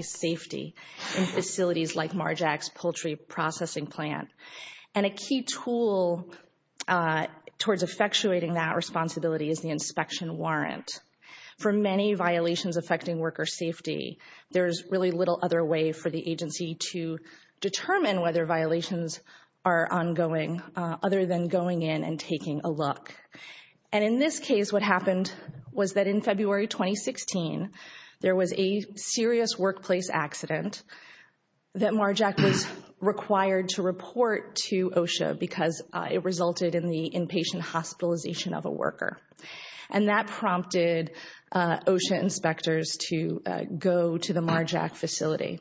safety in facilities like Mar-Jac's poultry processing plant. And a key tool towards effectuating that responsibility is the inspection warrant. For many violations affecting worker safety, there's really little other way for the agency to determine whether violations are ongoing other than going in and taking a look. And in this case what happened was that in February 2016 there was a serious workplace accident that Mar-Jac was required to report to OSHA because it resulted in the inpatient hospitalization of a worker. And that prompted OSHA inspectors to go to the Mar-Jac facility.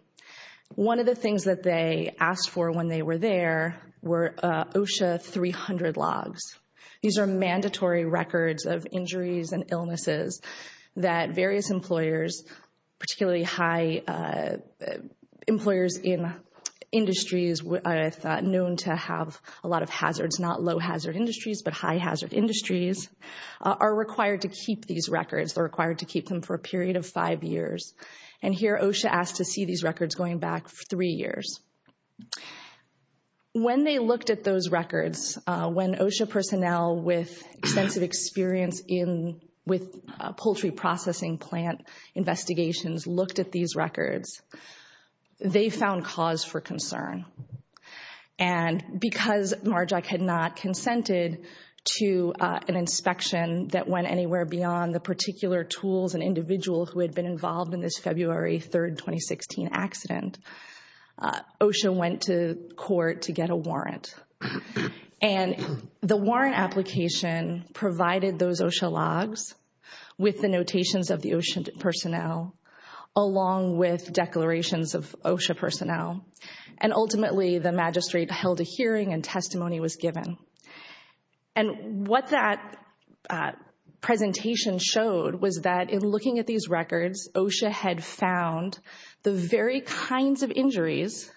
One of the things that they asked for when they were there were OSHA 300 logs. These are mandatory records of injuries and illnesses that various employers, particularly high employers in industries known to have a lot of hazards, not low hazard industries but high hazard industries, are required to keep these records. They're required to keep them for a period of five years. And here OSHA asked to see these records going back for three years. When they looked at those experience in with poultry processing plant investigations, looked at these records, they found cause for concern. And because Mar-Jac had not consented to an inspection that went anywhere beyond the particular tools and individual who had been involved in this February 3rd 2016 accident, OSHA went to court to get a provided those OSHA logs with the notations of the OSHA personnel along with declarations of OSHA personnel. And ultimately the magistrate held a hearing and testimony was given. And what that presentation showed was that in looking at these records, OSHA had found the very kinds of injuries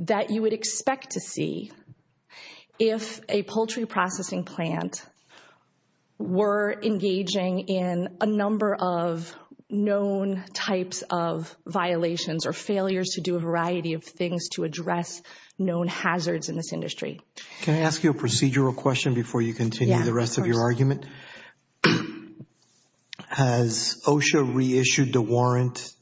that you would expect to see if a poultry processing plant were engaging in a number of known types of violations or failures to do a variety of things to address known hazards in this industry. Can I ask you a procedural question before you continue the rest of your argument? Has OSHA reissued the warrant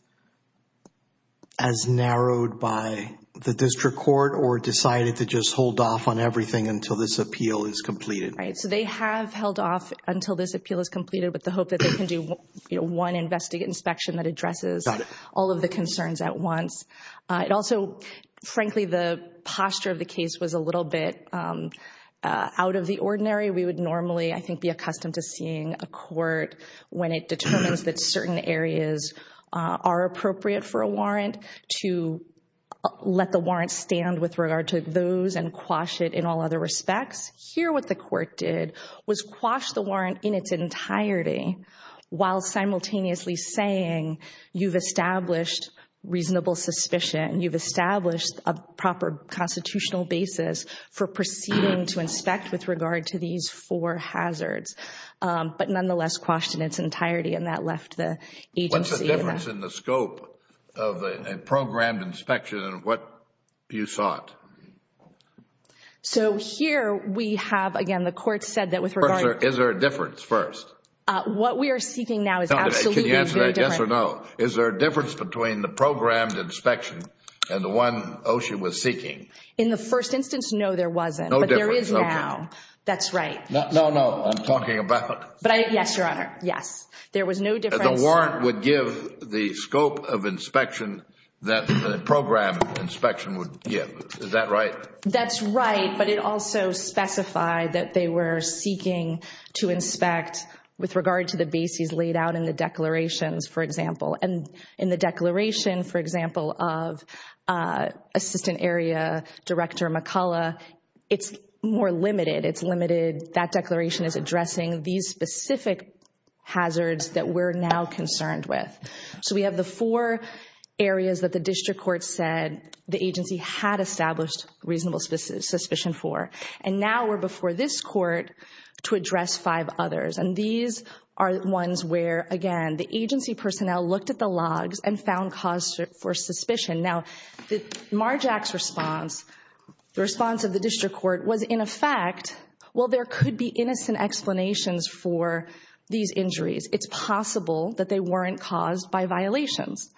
as narrowed by the to just hold off on everything until this appeal is completed? Right, so they have held off until this appeal is completed with the hope that they can do one investigate inspection that addresses all of the concerns at once. It also, frankly, the posture of the case was a little bit out of the ordinary. We would normally, I think, be accustomed to seeing a court when it determines that certain areas are appropriate for a warrant to let the warrant stand with regard to those and quash it in all other respects. Here what the court did was quash the warrant in its entirety while simultaneously saying you've established reasonable suspicion, you've established a proper constitutional basis for proceeding to inspect with regard to these four hazards. But nonetheless quashed in its entirety and that left the agency... What's the difference in the scope of a warrant you sought? So here we have, again, the court said that with regard... Is there a difference first? What we are seeking now is absolutely... Can you answer that yes or no? Is there a difference between the programmed inspection and the one OSHA was seeking? In the first instance, no, there wasn't. But there is now. That's right. No, no, I'm talking about... Yes, Your Honor, yes. There was no difference... The warrant would give the scope of inspection that the program inspection would give. Is that right? That's right, but it also specified that they were seeking to inspect with regard to the bases laid out in the declarations, for example. And in the declaration, for example, of Assistant Area Director McCullough, it's more limited. It's limited... That declaration is addressing these specific hazards that we're now concerned with. So we have the four areas that the district court said the agency had established reasonable suspicion for. And now we're before this court to address five others. And these are ones where, again, the agency personnel looked at the logs and found cause for suspicion. Now, Marjack's response, the response of the district court, was in effect, well, there could be that they weren't caused by violations.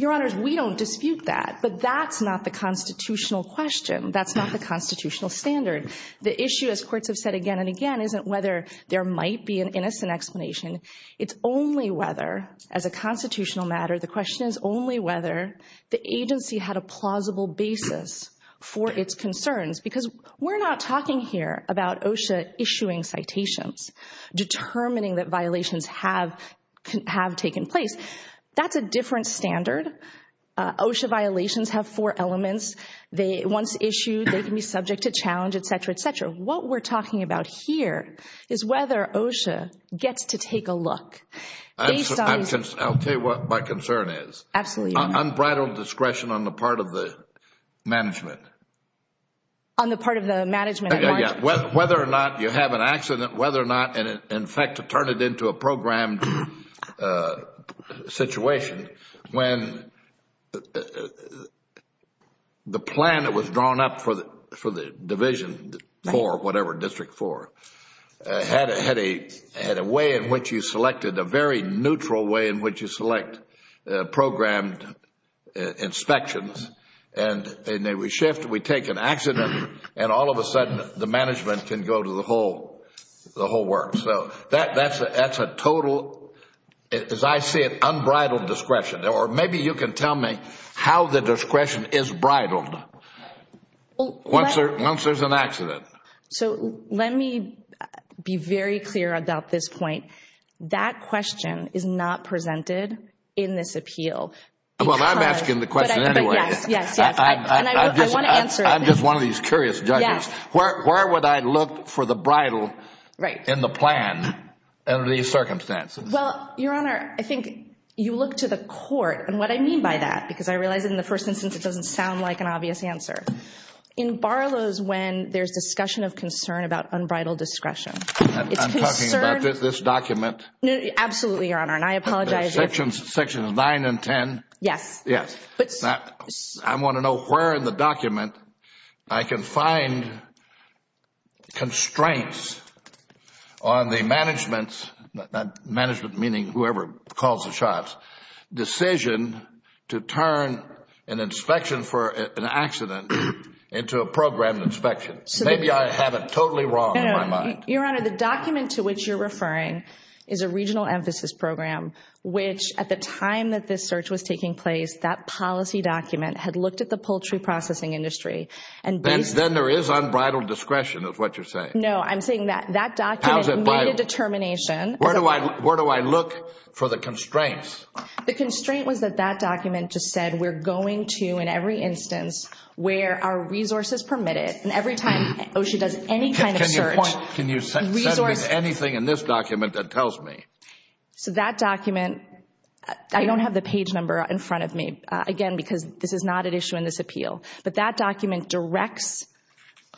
Your Honors, we don't dispute that, but that's not the constitutional question. That's not the constitutional standard. The issue, as courts have said again and again, isn't whether there might be an innocent explanation. It's only whether, as a constitutional matter, the question is only whether the agency had a plausible basis for its concerns. Because we're not talking here about OSHA issuing citations, determining that violations have taken place. That's a different standard. OSHA violations have four elements. They, once issued, they can be subject to challenge, etc., etc. What we're talking about here is whether OSHA gets to take a look. I'll tell you what my concern is. Absolutely. Unbridled discretion on the part of the management. On the part of the management. Whether or not you have an accident, whether or not, and in fact, to turn it into a programmed situation, when the plan that was drawn up for the division, for whatever, District 4, had a way in which you selected a very neutral way in which you select programmed inspections, and then we shift, we take an accident, and all of a sudden, the management can go to the whole work. So, that's a total, as I see it, unbridled discretion. Or maybe you can tell me how the discretion is bridled. Once there's an accident. So let me be very clear about this point. That question is not presented in this appeal. Well, I'm asking the question anyway. Yes, yes, yes. I'm just one of these curious judges. Where would I look for the bridle in the plan under these circumstances? Well, Your Honor, I think you look to the court, and what I mean by that, because I realize in the first instance it doesn't sound like an obvious answer. In Barlow's, when there's discussion of concern about unbridled discretion, it's concerned... I'm talking about this document? Absolutely, Your Honor, and I apologize if... Sections 9 and 10? Yes. I want to know where in the document I can find constraints on the management's, management meaning whoever calls the shots, decision to turn an inspection for an accident into a program inspection. Maybe I have it totally wrong in my mind. Your Honor, the document to which you're referring is a regional emphasis program, which at the time that this search was taking place, that policy document had looked at the poultry processing industry, and based... Then there is unbridled discretion is what you're saying. No, I'm saying that that document made a determination... Where do I look for the constraints? The constraint was that that document just said we're going to, in every instance, where our resources permitted, and every time OSHA does any kind of search... Can you set me anything in this document that tells me? So that document, I don't have the page number in front of me, again, because this is not at issue in this appeal, but that document directs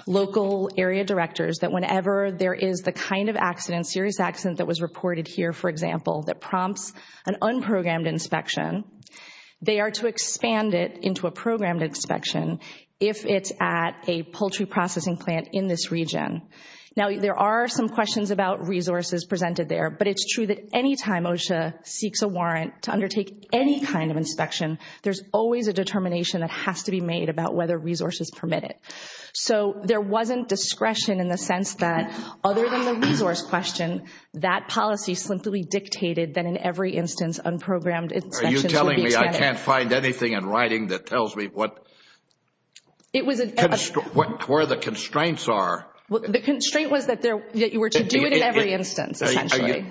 local area directors that whenever there is the kind of accident, serious accident that was reported here, for example, that prompts an unprogrammed inspection, they are to expand it into a programmed inspection if it's at a poultry processing plant in this region. Now, there are some questions about resources presented there, but it's true that any time OSHA seeks a warrant to undertake any kind of inspection, there's always a determination that has to be made about whether resources permit it. So there wasn't discretion in the sense that, other than the resource question, that policy simply dictated that in every instance, unprogrammed inspections would be extended. Are you telling me I can't find anything in writing that tells me what... It was... Where the constraints are. The constraint was that you were to do it in every instance, essentially.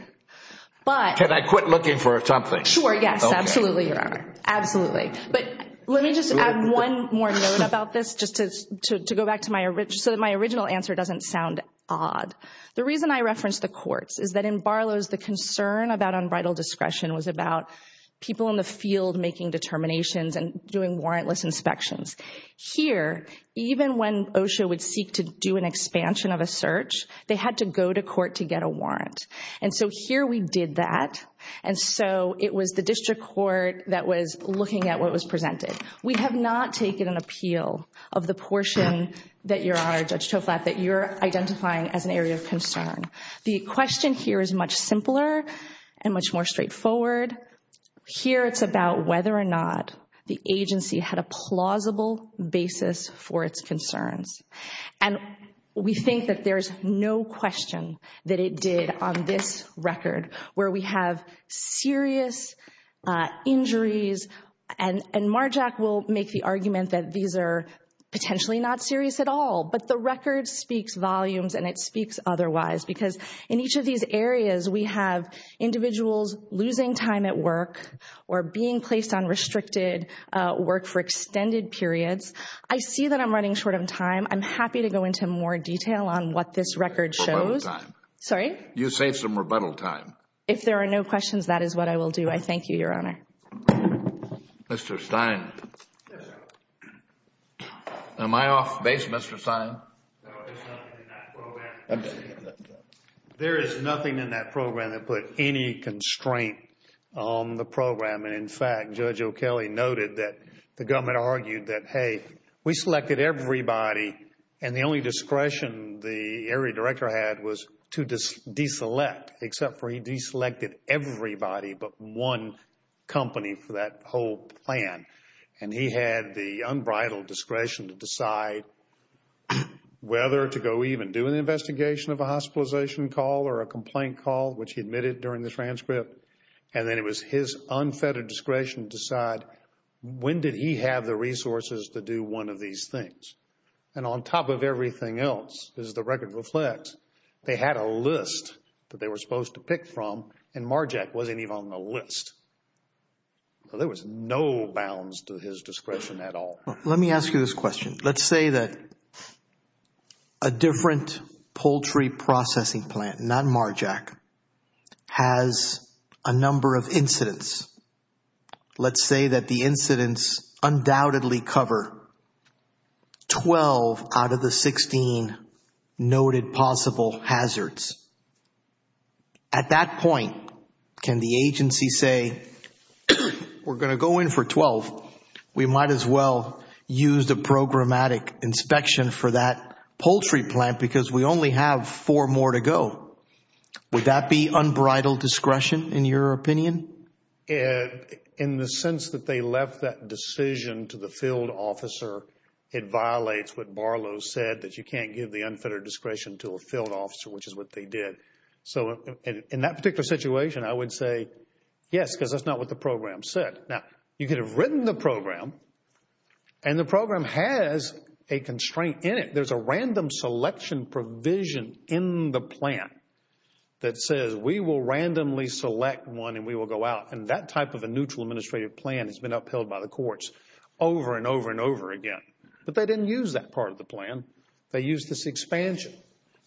Can I quit looking for something? Sure, yes, absolutely, Your Honor. Absolutely. But let me just add one more note about this, just to go back to my original answer doesn't sound odd. The reason I referenced the courts is that in Barlow's, the concern about unbridled discretion was about people in the field making determinations and doing warrantless inspections. Here, even when OSHA would seek to do an expansion of a search, they had to go to court to get a warrant. And so here we did that. And so it was the district court that was looking at what was presented. We have not taken an appeal of the portion that, Your Honor, Judge Toflap, that you're identifying as an area of concern. The question here is much simpler and much more straightforward. Here, it's about whether or not the agency had a plausible basis for its concerns. And we think that there's no question that it did on this record, where we have serious injuries. And Marjack will make the argument that these are potentially not serious at all. But the record speaks volumes and it speaks otherwise, because in each of these areas we have individuals losing time at work or being placed on restricted work for extended periods. I see that I'm running short of time. I'm happy to go into more detail on what this record shows. Rebuttal time. Sorry? You say some rebuttal time. If there are no questions, that is what I will do. I thank you, Your Honor. Mr. Stein. Am I off base, Mr. Stein? No, there's nothing in that program. There is nothing in that program that put any constraint on the program. And in fact, Judge O'Kelley noted that the government argued that, hey, we selected everybody and the only discretion the area director had was to deselect, except for he deselected everybody but one company for that whole plan. And he had the unbridled discretion to decide whether to go even do an investigation of a hospitalization call or a complaint call, which he admitted during the transcript. And then it was his unfettered discretion to decide when did he have the resources to do one of these things. And on top of everything else, as the record reflects, they had a list that they were supposed to pick from and MARJAC wasn't even on the list. There was no bounds to his discretion at all. Let me ask you this question. Let's say that a different poultry processing plant, not MARJAC, has a number of incidents. Let's say that the incidents undoubtedly cover 12 out of the 16 noted possible hazards. At that point, can the agency say, we're going to go in for 12. We might as well use the programmatic inspection for that poultry plant because we only have four more to go. Would that be unbridled discretion in your opinion? In the sense that they left that decision to the field officer, it violates what Barlow said that you can't give the unfettered discretion to a field officer, which is what they did. So in that particular situation, I would say yes, because that's not what the program said. Now, you could have written the program and the program has a constraint in it. There's a random selection provision in the plan that says we will randomly select one and we will go out. And that type of a neutral administrative plan has been upheld by the courts over and over and over again. But they didn't use that part of the plan. They used this expansion,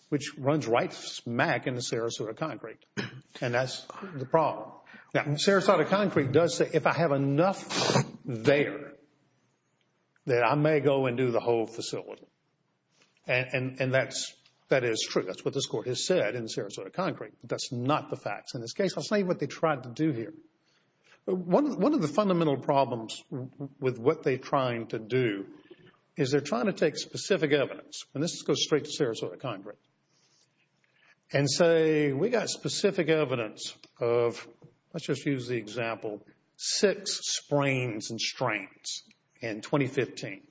which runs right smack into Sarasota Concrete and that's the problem. Now, Sarasota Concrete does say, if I have enough there, that I may go and do the whole facility. And that is true, that's what this court has said in Sarasota Concrete, but that's not the facts in this case. I'll say what they tried to do here. One of the fundamental problems with what they're trying to do is they're trying to take specific evidence, and this goes straight to Sarasota Concrete, and say we got specific evidence of, let's just use the example, six sprains and strains in 2015.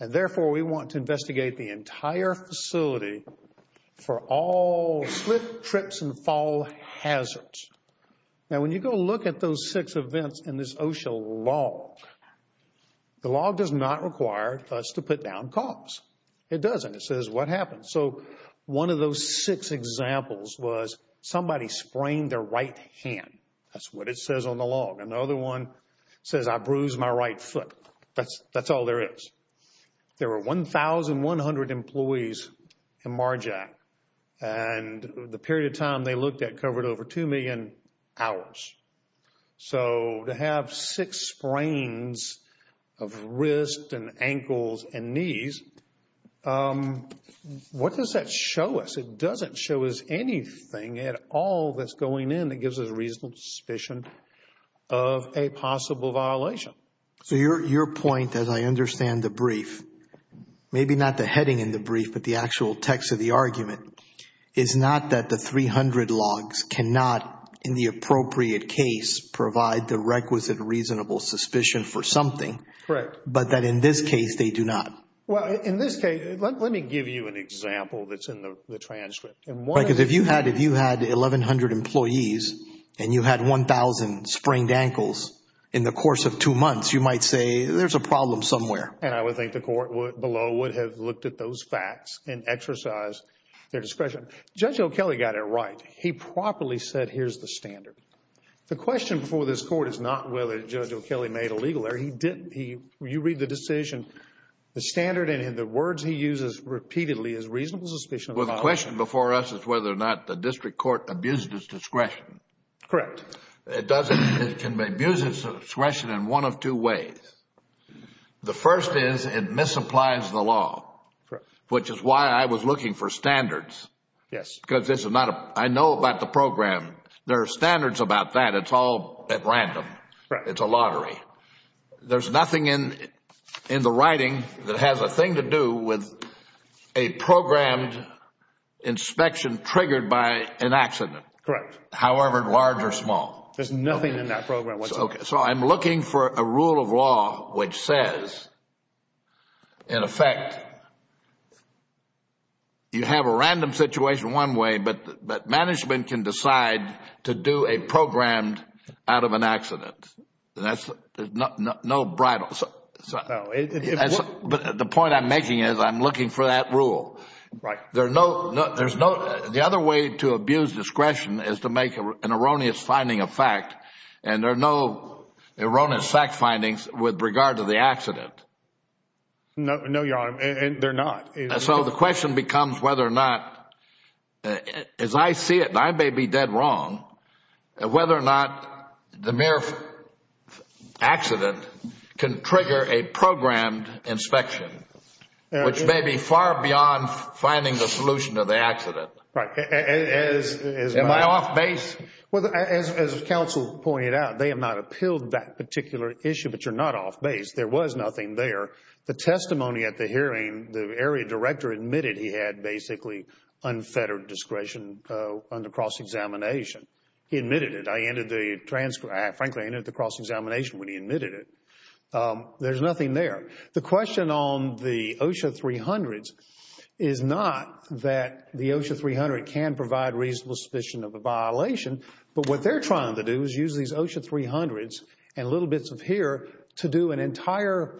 And therefore, we want to investigate the entire facility for all slip, trips, and fall hazards. Now, when you go look at those six events in this OSHA log, the log does not require us to put down cops. It doesn't. It says what happened. So, one of those six examples was somebody sprained their right hand. That's what it says on the log. Another one says I bruised my right foot. That's all there is. There were 1,100 employees in MARJAC, and the period of time they looked at covered over 2 million hours. So to have six sprains of wrist and ankles and knees, what does that show us? It doesn't show us anything at all that's going in that gives us a reasonable suspicion of a possible violation. So your point, as I understand the brief, maybe not the heading in the brief, but the and not, in the appropriate case, provide the requisite reasonable suspicion for something, but that in this case, they do not. Well, in this case, let me give you an example that's in the transcript. Because if you had 1,100 employees and you had 1,000 sprained ankles in the course of two months, you might say there's a problem somewhere. And I would think the court below would have looked at those facts and exercised their discretion. Judge O'Kelley got it right. He properly said, here's the standard. The question before this court is not whether Judge O'Kelley made a legal error. You read the decision, the standard and the words he uses repeatedly is reasonable suspicion of a violation. Well, the question before us is whether or not the district court abused its discretion. Correct. It can be abused its discretion in one of two ways. The first is it misapplies the law, which is why I was looking for standards. Yes. Because this is not a... I know about the program. There are standards about that. It's all at random. It's a lottery. There's nothing in the writing that has a thing to do with a programmed inspection triggered by an accident, however large or small. There's nothing in that program whatsoever. I'm looking for a rule of law which says, in effect, you have a random situation one way, but management can decide to do a programmed out of an accident. No bridle. The point I'm making is I'm looking for that rule. Right. There's no... The other way to abuse discretion is to make an erroneous finding of fact, and there are no erroneous fact findings with regard to the accident. No, Your Honor. They're not. So the question becomes whether or not, as I see it, and I may be dead wrong, whether or not the mere accident can trigger a programmed inspection, which may be far beyond finding the solution to the accident. Am I off base? As counsel pointed out, they have not appealed that particular issue, but you're not off base. There was nothing there. The testimony at the hearing, the area director admitted he had basically unfettered discretion under cross-examination. He admitted it. Frankly, I ended the cross-examination when he admitted it. There's nothing there. The question on the OSHA 300s is not that the OSHA 300 can provide reasonable suspicion of a violation, but what they're trying to do is use these OSHA 300s and little bits of here to do an entire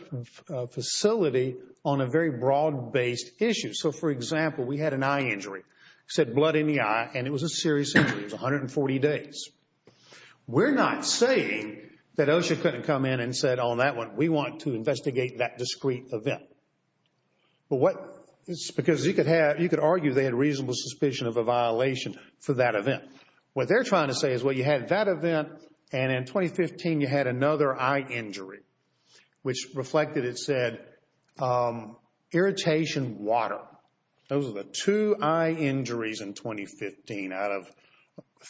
facility on a very broad-based issue. So for example, we had an eye injury, said blood in the eye, and it was a serious injury. It was 140 days. We're not saying that OSHA couldn't come in and said, on that one, we want to investigate that discrete event, because you could argue they had reasonable suspicion of a violation for that event. What they're trying to say is, well, you had that event, and in 2015, you had another eye injury, which reflected, it said, irritation, water. Those are the two eye injuries in 2015 out of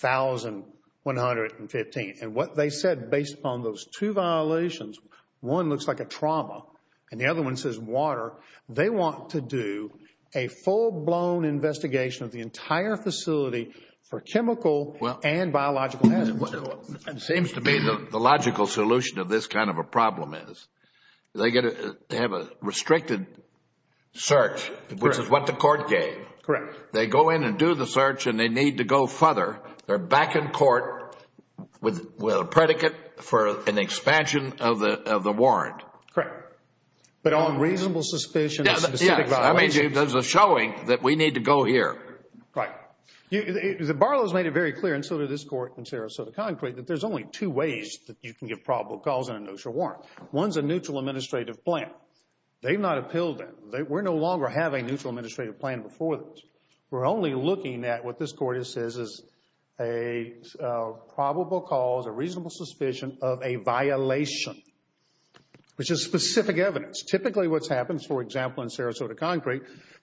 1,115. And what they said, based upon those two violations, one looks like a trauma, and the other one says water. They want to do a full-blown investigation of the entire facility for chemical and biological hazards. It seems to me the logical solution of this kind of a problem is, they have a restricted search, which is what the court gave. They go in and do the search, and they need to go further. They're back in court with a predicate for an expansion of the warrant. Correct. But on reasonable suspicion of specific violations? Yes. I mean, there's a showing that we need to go here. Right. The Barlow's made it very clear, and so did this Court in Sarasota Concrete, that there's only two ways that you can give probable cause on an OSHA warrant. One's a neutral administrative plan. They've not appealed that. We no longer have a neutral administrative plan before this. We're only looking at what this Court says is a probable cause, a reasonable suspicion of a violation, which is specific evidence. Typically what's happened, for example, in Sarasota Concrete,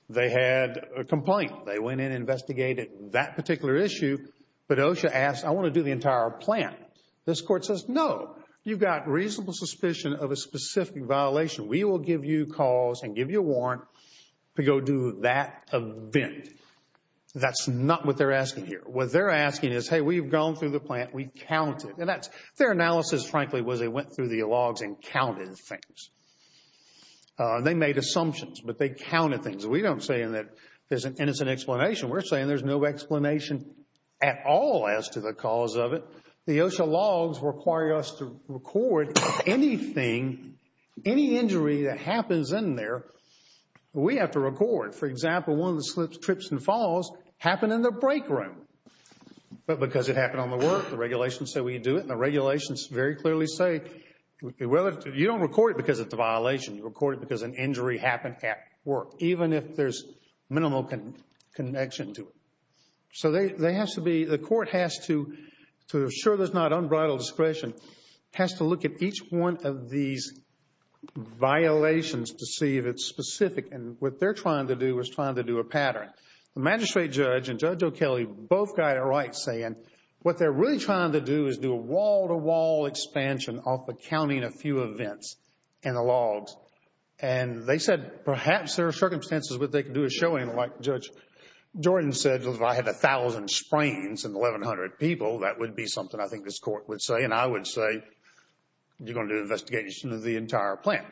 they had a complaint. They went in and investigated that particular issue, but OSHA asked, I want to do the entire plan. This Court says, no. You've got reasonable suspicion of a specific violation. We will give you cause and give you a warrant to go do that event. That's not what they're asking here. What they're asking is, hey, we've gone through the plan. We counted. And that's, their analysis, frankly, was they went through the logs and counted things. They made assumptions, but they counted things. We don't say in that, and it's an explanation. We're saying there's no explanation at all as to the cause of it. The OSHA logs require us to record anything, any injury that happens in there. We have to record. For example, one of the slips, trips, and falls happened in the break room, but because it happened on the work, the regulations say we do it, and the regulations very clearly say, you don't record it because it's a violation, you record it because an injury happened at work, even if there's minimal connection to it. So they have to be, the court has to, to assure there's not unbridled discretion, has to look at each one of these violations to see if it's specific, and what they're trying to do is trying to do a pattern. The magistrate judge and Judge O'Kelley both got it right saying, what they're really trying to do is do a wall-to-wall expansion off of counting a few events in the logs. And they said, perhaps there are circumstances where they could do a showing like Judge Jordan said if I had 1,000 sprains in 1,100 people, that would be something I think this court would say, and I would say, you're going to do an investigation of the entire plant.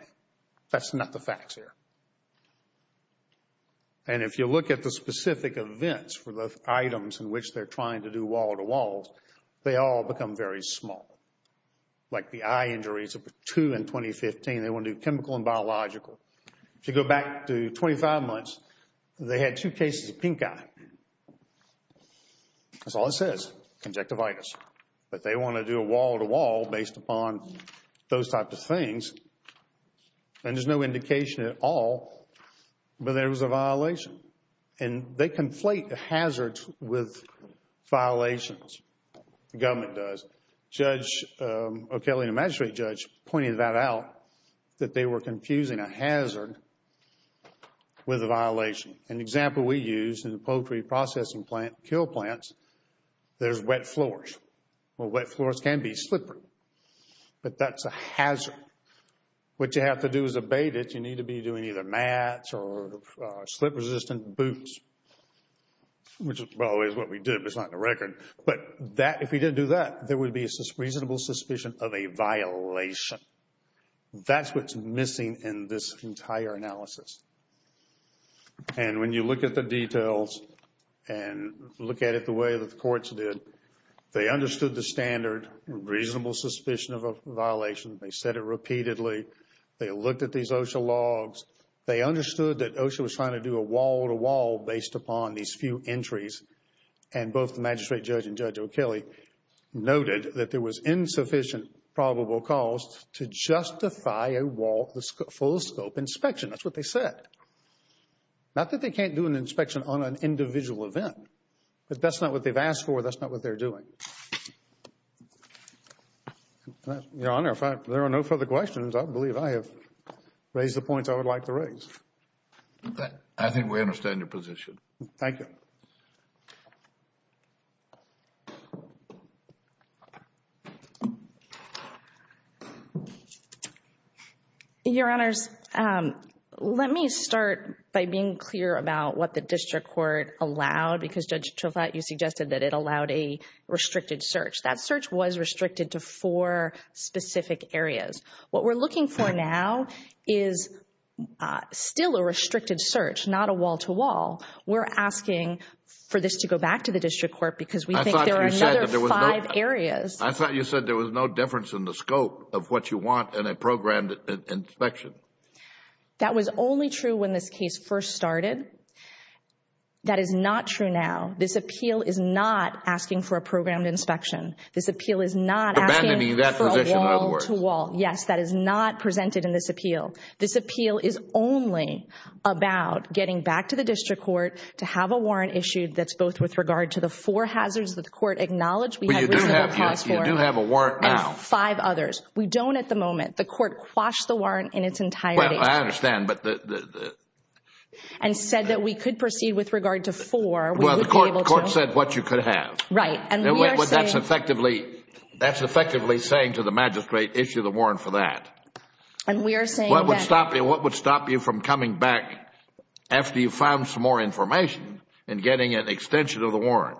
That's not the facts here. And if you look at the specific events for the items in which they're trying to do wall-to-walls, they all become very small. Like the eye injuries, two in 2015, they want to do chemical and biological. If you go back to 25 months, they had two cases of pink eye. That's all it says, conjective itis. But they want to do a wall-to-wall based upon those types of things, and there's no indication at all that there was a violation. And they conflate the hazards with violations, the government does. Judge O'Kelley and the magistrate judge pointed that out, that they were confusing a hazard with a violation. An example we use in the poultry processing plant, kill plants, there's wet floors. Well, wet floors can be slippery, but that's a hazard. What you have to do is abate it. You need to be doing either mats or slip-resistant boots, which, by the way, is what we did, but it's not in the record. But that, if we didn't do that, there would be a reasonable suspicion of a violation. That's what's missing in this entire analysis. And when you look at the details and look at it the way that the courts did, they understood the standard, reasonable suspicion of a violation. They said it repeatedly. They looked at these OSHA logs. They understood that OSHA was trying to do a wall-to-wall based upon these few entries, and both the magistrate judge and Judge O'Kelley noted that there was insufficient probable cost to justify a full-scope inspection. That's what they said. Not that they can't do an inspection on an individual event, but that's not what they've asked for. That's not what they're doing. Your Honor, if there are no further questions, I believe I have raised the points I would like to raise. I think we understand your position. Thank you. Your Honors, let me start by being clear about what the district court allowed, because Judge Trofatt, you suggested that it allowed a restricted search. That search was restricted to four specific areas. What we're looking for now is still a restricted search, not a wall-to-wall. We're asking for this to go back to the district court because we think there are another five areas. I thought you said there was no difference in the scope of what you want in a programmed inspection. That was only true when this case first started. That is not true now. This appeal is not asking for a programmed inspection. This appeal is not asking for a wall-to-wall. Yes, that is not presented in this appeal. This appeal is only about getting back to the district court to have a warrant issued that's both with regard to the four hazards that the court acknowledged we had reasonable cause for. You do have a warrant now. Five others. We don't at the moment. The court quashed the warrant in its entirety. Well, I understand. And said that we could proceed with regard to four. Well, the court said what you could have. Right. That's effectively saying to the magistrate, issue the warrant for that. And we are saying that. What would stop you from coming back after you found some more information and getting an extension of the warrant?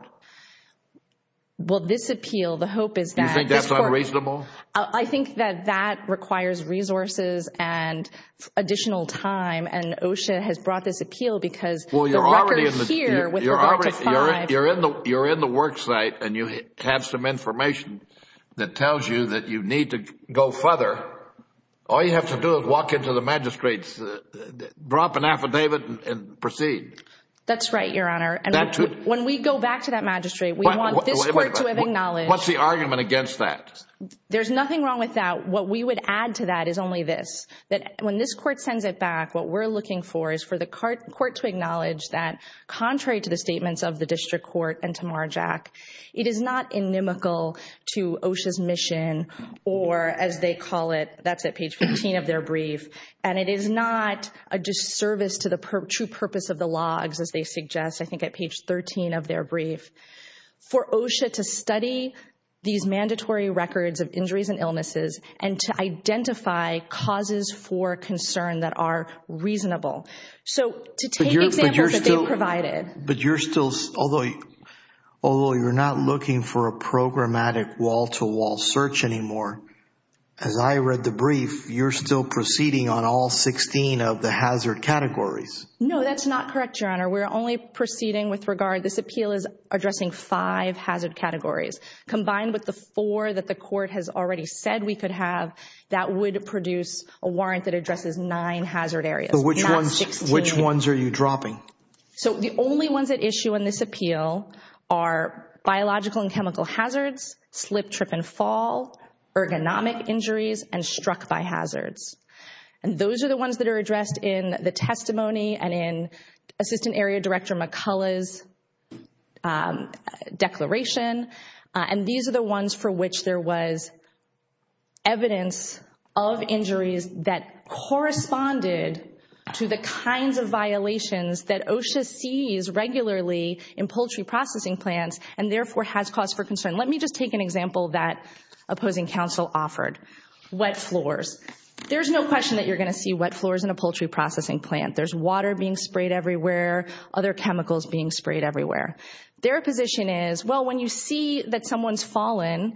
Well, this appeal, the hope is that. You think that's unreasonable? I think that that requires resources and additional time and OSHA has brought this appeal because the record here with regard to five. You're in the you're in the worksite and you have some information that tells you that you need to go further. All you have to do is walk into the magistrates, drop an affidavit and proceed. That's right, Your Honor. And when we go back to that magistrate, we want this court to acknowledge. What's the argument against that? There's nothing wrong with that. What we would add to that is only this, that when this court sends it back, what we're looking for is for the court to acknowledge that contrary to the statements of the district court and Tamar Jack, it is not inimical to OSHA's mission or as they call it, that's at page 15 of their brief. And it is not a disservice to the true purpose of the logs, as they suggest, I think at page 13 of their brief. For OSHA to study these mandatory records of injuries and illnesses and to identify causes for concern that are reasonable. So to take examples that they've provided. But you're still, although you're not looking for a programmatic wall-to-wall search anymore, as I read the brief, you're still proceeding on all 16 of the hazard categories. No, that's not correct, Your Honor. We're only proceeding with regard, this appeal is addressing five hazard categories combined with the four that the court has already said we could have, that would produce a warrant that addresses nine hazard areas, not 16. Which ones are you dropping? So the only ones at issue in this appeal are biological and chemical hazards, slip, trip and fall, ergonomic injuries, and struck by hazards. And those are the ones that are addressed in the testimony and in Assistant Area Director McCullough's declaration. And these are the ones for which there was evidence of injuries that corresponded to the kinds of violations that OSHA sees regularly in poultry processing plants and therefore has cause for concern. Let me just take an example that opposing counsel offered, wet floors. There's no question that you're going to see wet floors in a poultry processing plant. There's water being sprayed everywhere, other chemicals being sprayed everywhere. Their position is, well, when you see that someone's fallen,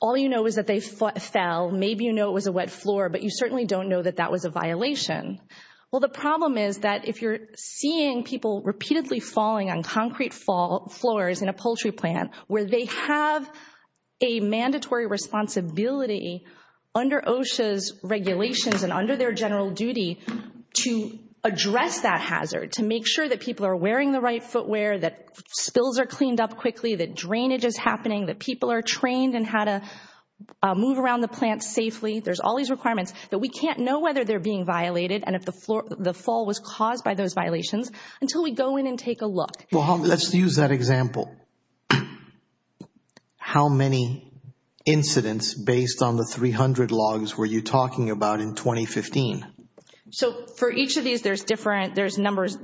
all you know is that they fell, maybe you know it was a wet floor, but you certainly don't know that that was a violation. Well, the problem is that if you're seeing people repeatedly falling on concrete floors in a poultry plant where they have a mandatory responsibility under OSHA's regulations and under their general duty to address that hazard, to make sure that people are wearing the right footwear, that spills are cleaned up quickly, that drainage is happening, that people are trained in how to move around the plant safely. There's all these requirements that we can't know whether they're being violated and if the fall was caused by those violations until we go in and take a look. Well, let's use that example. How many incidents based on the 300 logs were you talking about in 2015? So for each of these, there's different numbers.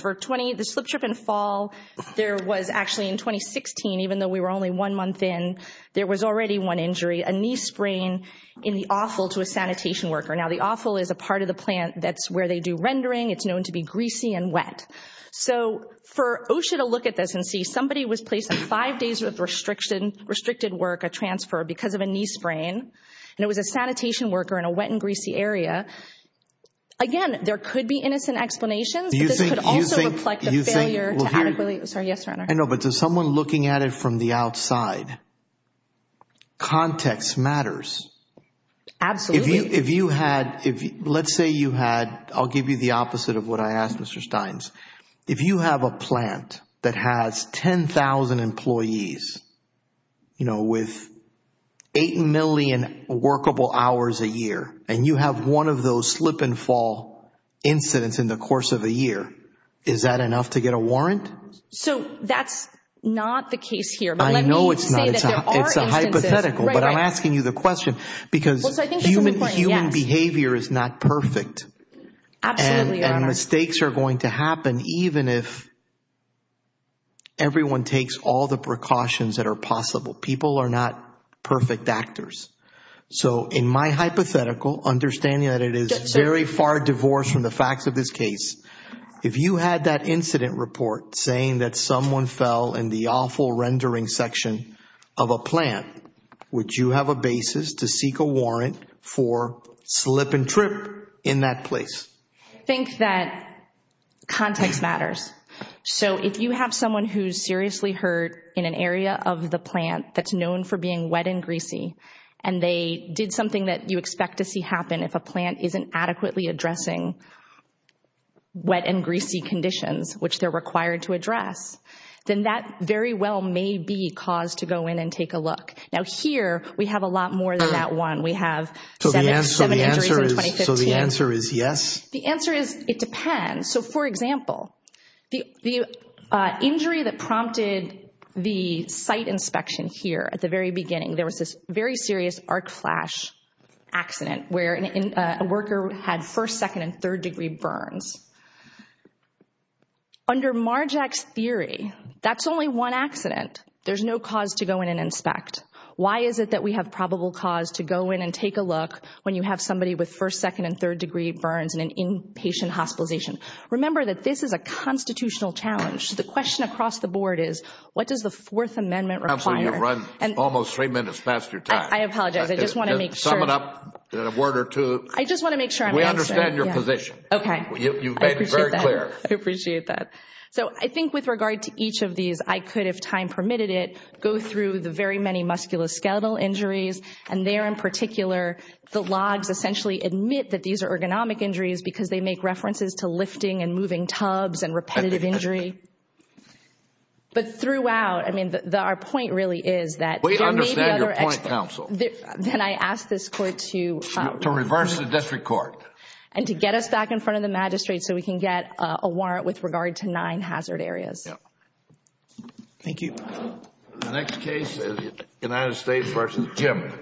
For 20, the slip strip and fall, there was actually in 2016, even though we were only one month in, there was already one injury, a knee sprain in the offal to a sanitation worker. Now, the offal is a part of the plant that's where they do rendering. It's known to be greasy and wet. So for OSHA to look at this and see somebody was placed on five days with restricted work, a transfer because of a knee sprain, and it was a sanitation worker in a wet and greasy area, again, there could be innocent explanations. But this could also reflect the failure to adequately... Sorry, yes, Your Honor. I know, but to someone looking at it from the outside, context matters. Absolutely. If you had... Let's say you had... I'll give you the opposite of what I asked, Mr. Steins. If you have a plant that has 10,000 employees with 8 million workable hours a year, and you have one of those slip and fall incidents in the course of a year, is that enough to get a warrant? So that's not the case here. I know it's not. Let me say that there are instances... It's a hypothetical, but I'm asking you the question because human behavior is not perfect. Absolutely, Your Honor. And mistakes are going to happen even if everyone takes all the precautions that are possible. People are not perfect actors. So in my hypothetical, understanding that it is very far divorced from the facts of this case, if you had that incident report saying that someone fell in the awful rendering section of a plant, would you have a basis to seek a warrant for slip and trip in that place? I think that context matters. So if you have someone who's seriously hurt in an area of the plant that's known for being wet and greasy, and they did something that you expect to see happen if a plant isn't adequately addressing wet and greasy conditions, which they're required to address, then that very well may be cause to go in and take a look. Now here, we have a lot more than that one. We have seven injuries in 2015. So the answer is yes? The answer is it depends. So for example, the injury that prompted the site inspection here at the very beginning, there was this very serious arc flash accident where a worker had first, second, and third degree burns. Under Marjack's theory, that's only one accident. There's no cause to go in and inspect. Why is it that we have probable cause to go in and take a look when you have somebody with first, second, and third degree burns in an inpatient hospitalization? Remember that this is a constitutional challenge. The question across the board is, what does the Fourth Amendment require? Absolutely, you've run almost three minutes past your time. I apologize. I just want to make sure. Sum it up in a word or two. I just want to make sure I'm answering. We understand your position. Okay. You've made it very clear. I appreciate that. So I think with regard to each of these, I could, if time permitted it, go through the very many musculoskeletal injuries, and there in particular, the logs essentially admit that these are ergonomic injuries because they make references to lifting and moving tubs and repetitive injury. But throughout, I mean, our point really is that there may be other accidents. We understand your point, counsel. Then I ask this Court to reverse the district court. And to get us back in front of the magistrate so we can get a warrant with regard to nine hazard areas. Thank you. The next case is United States v. Jim.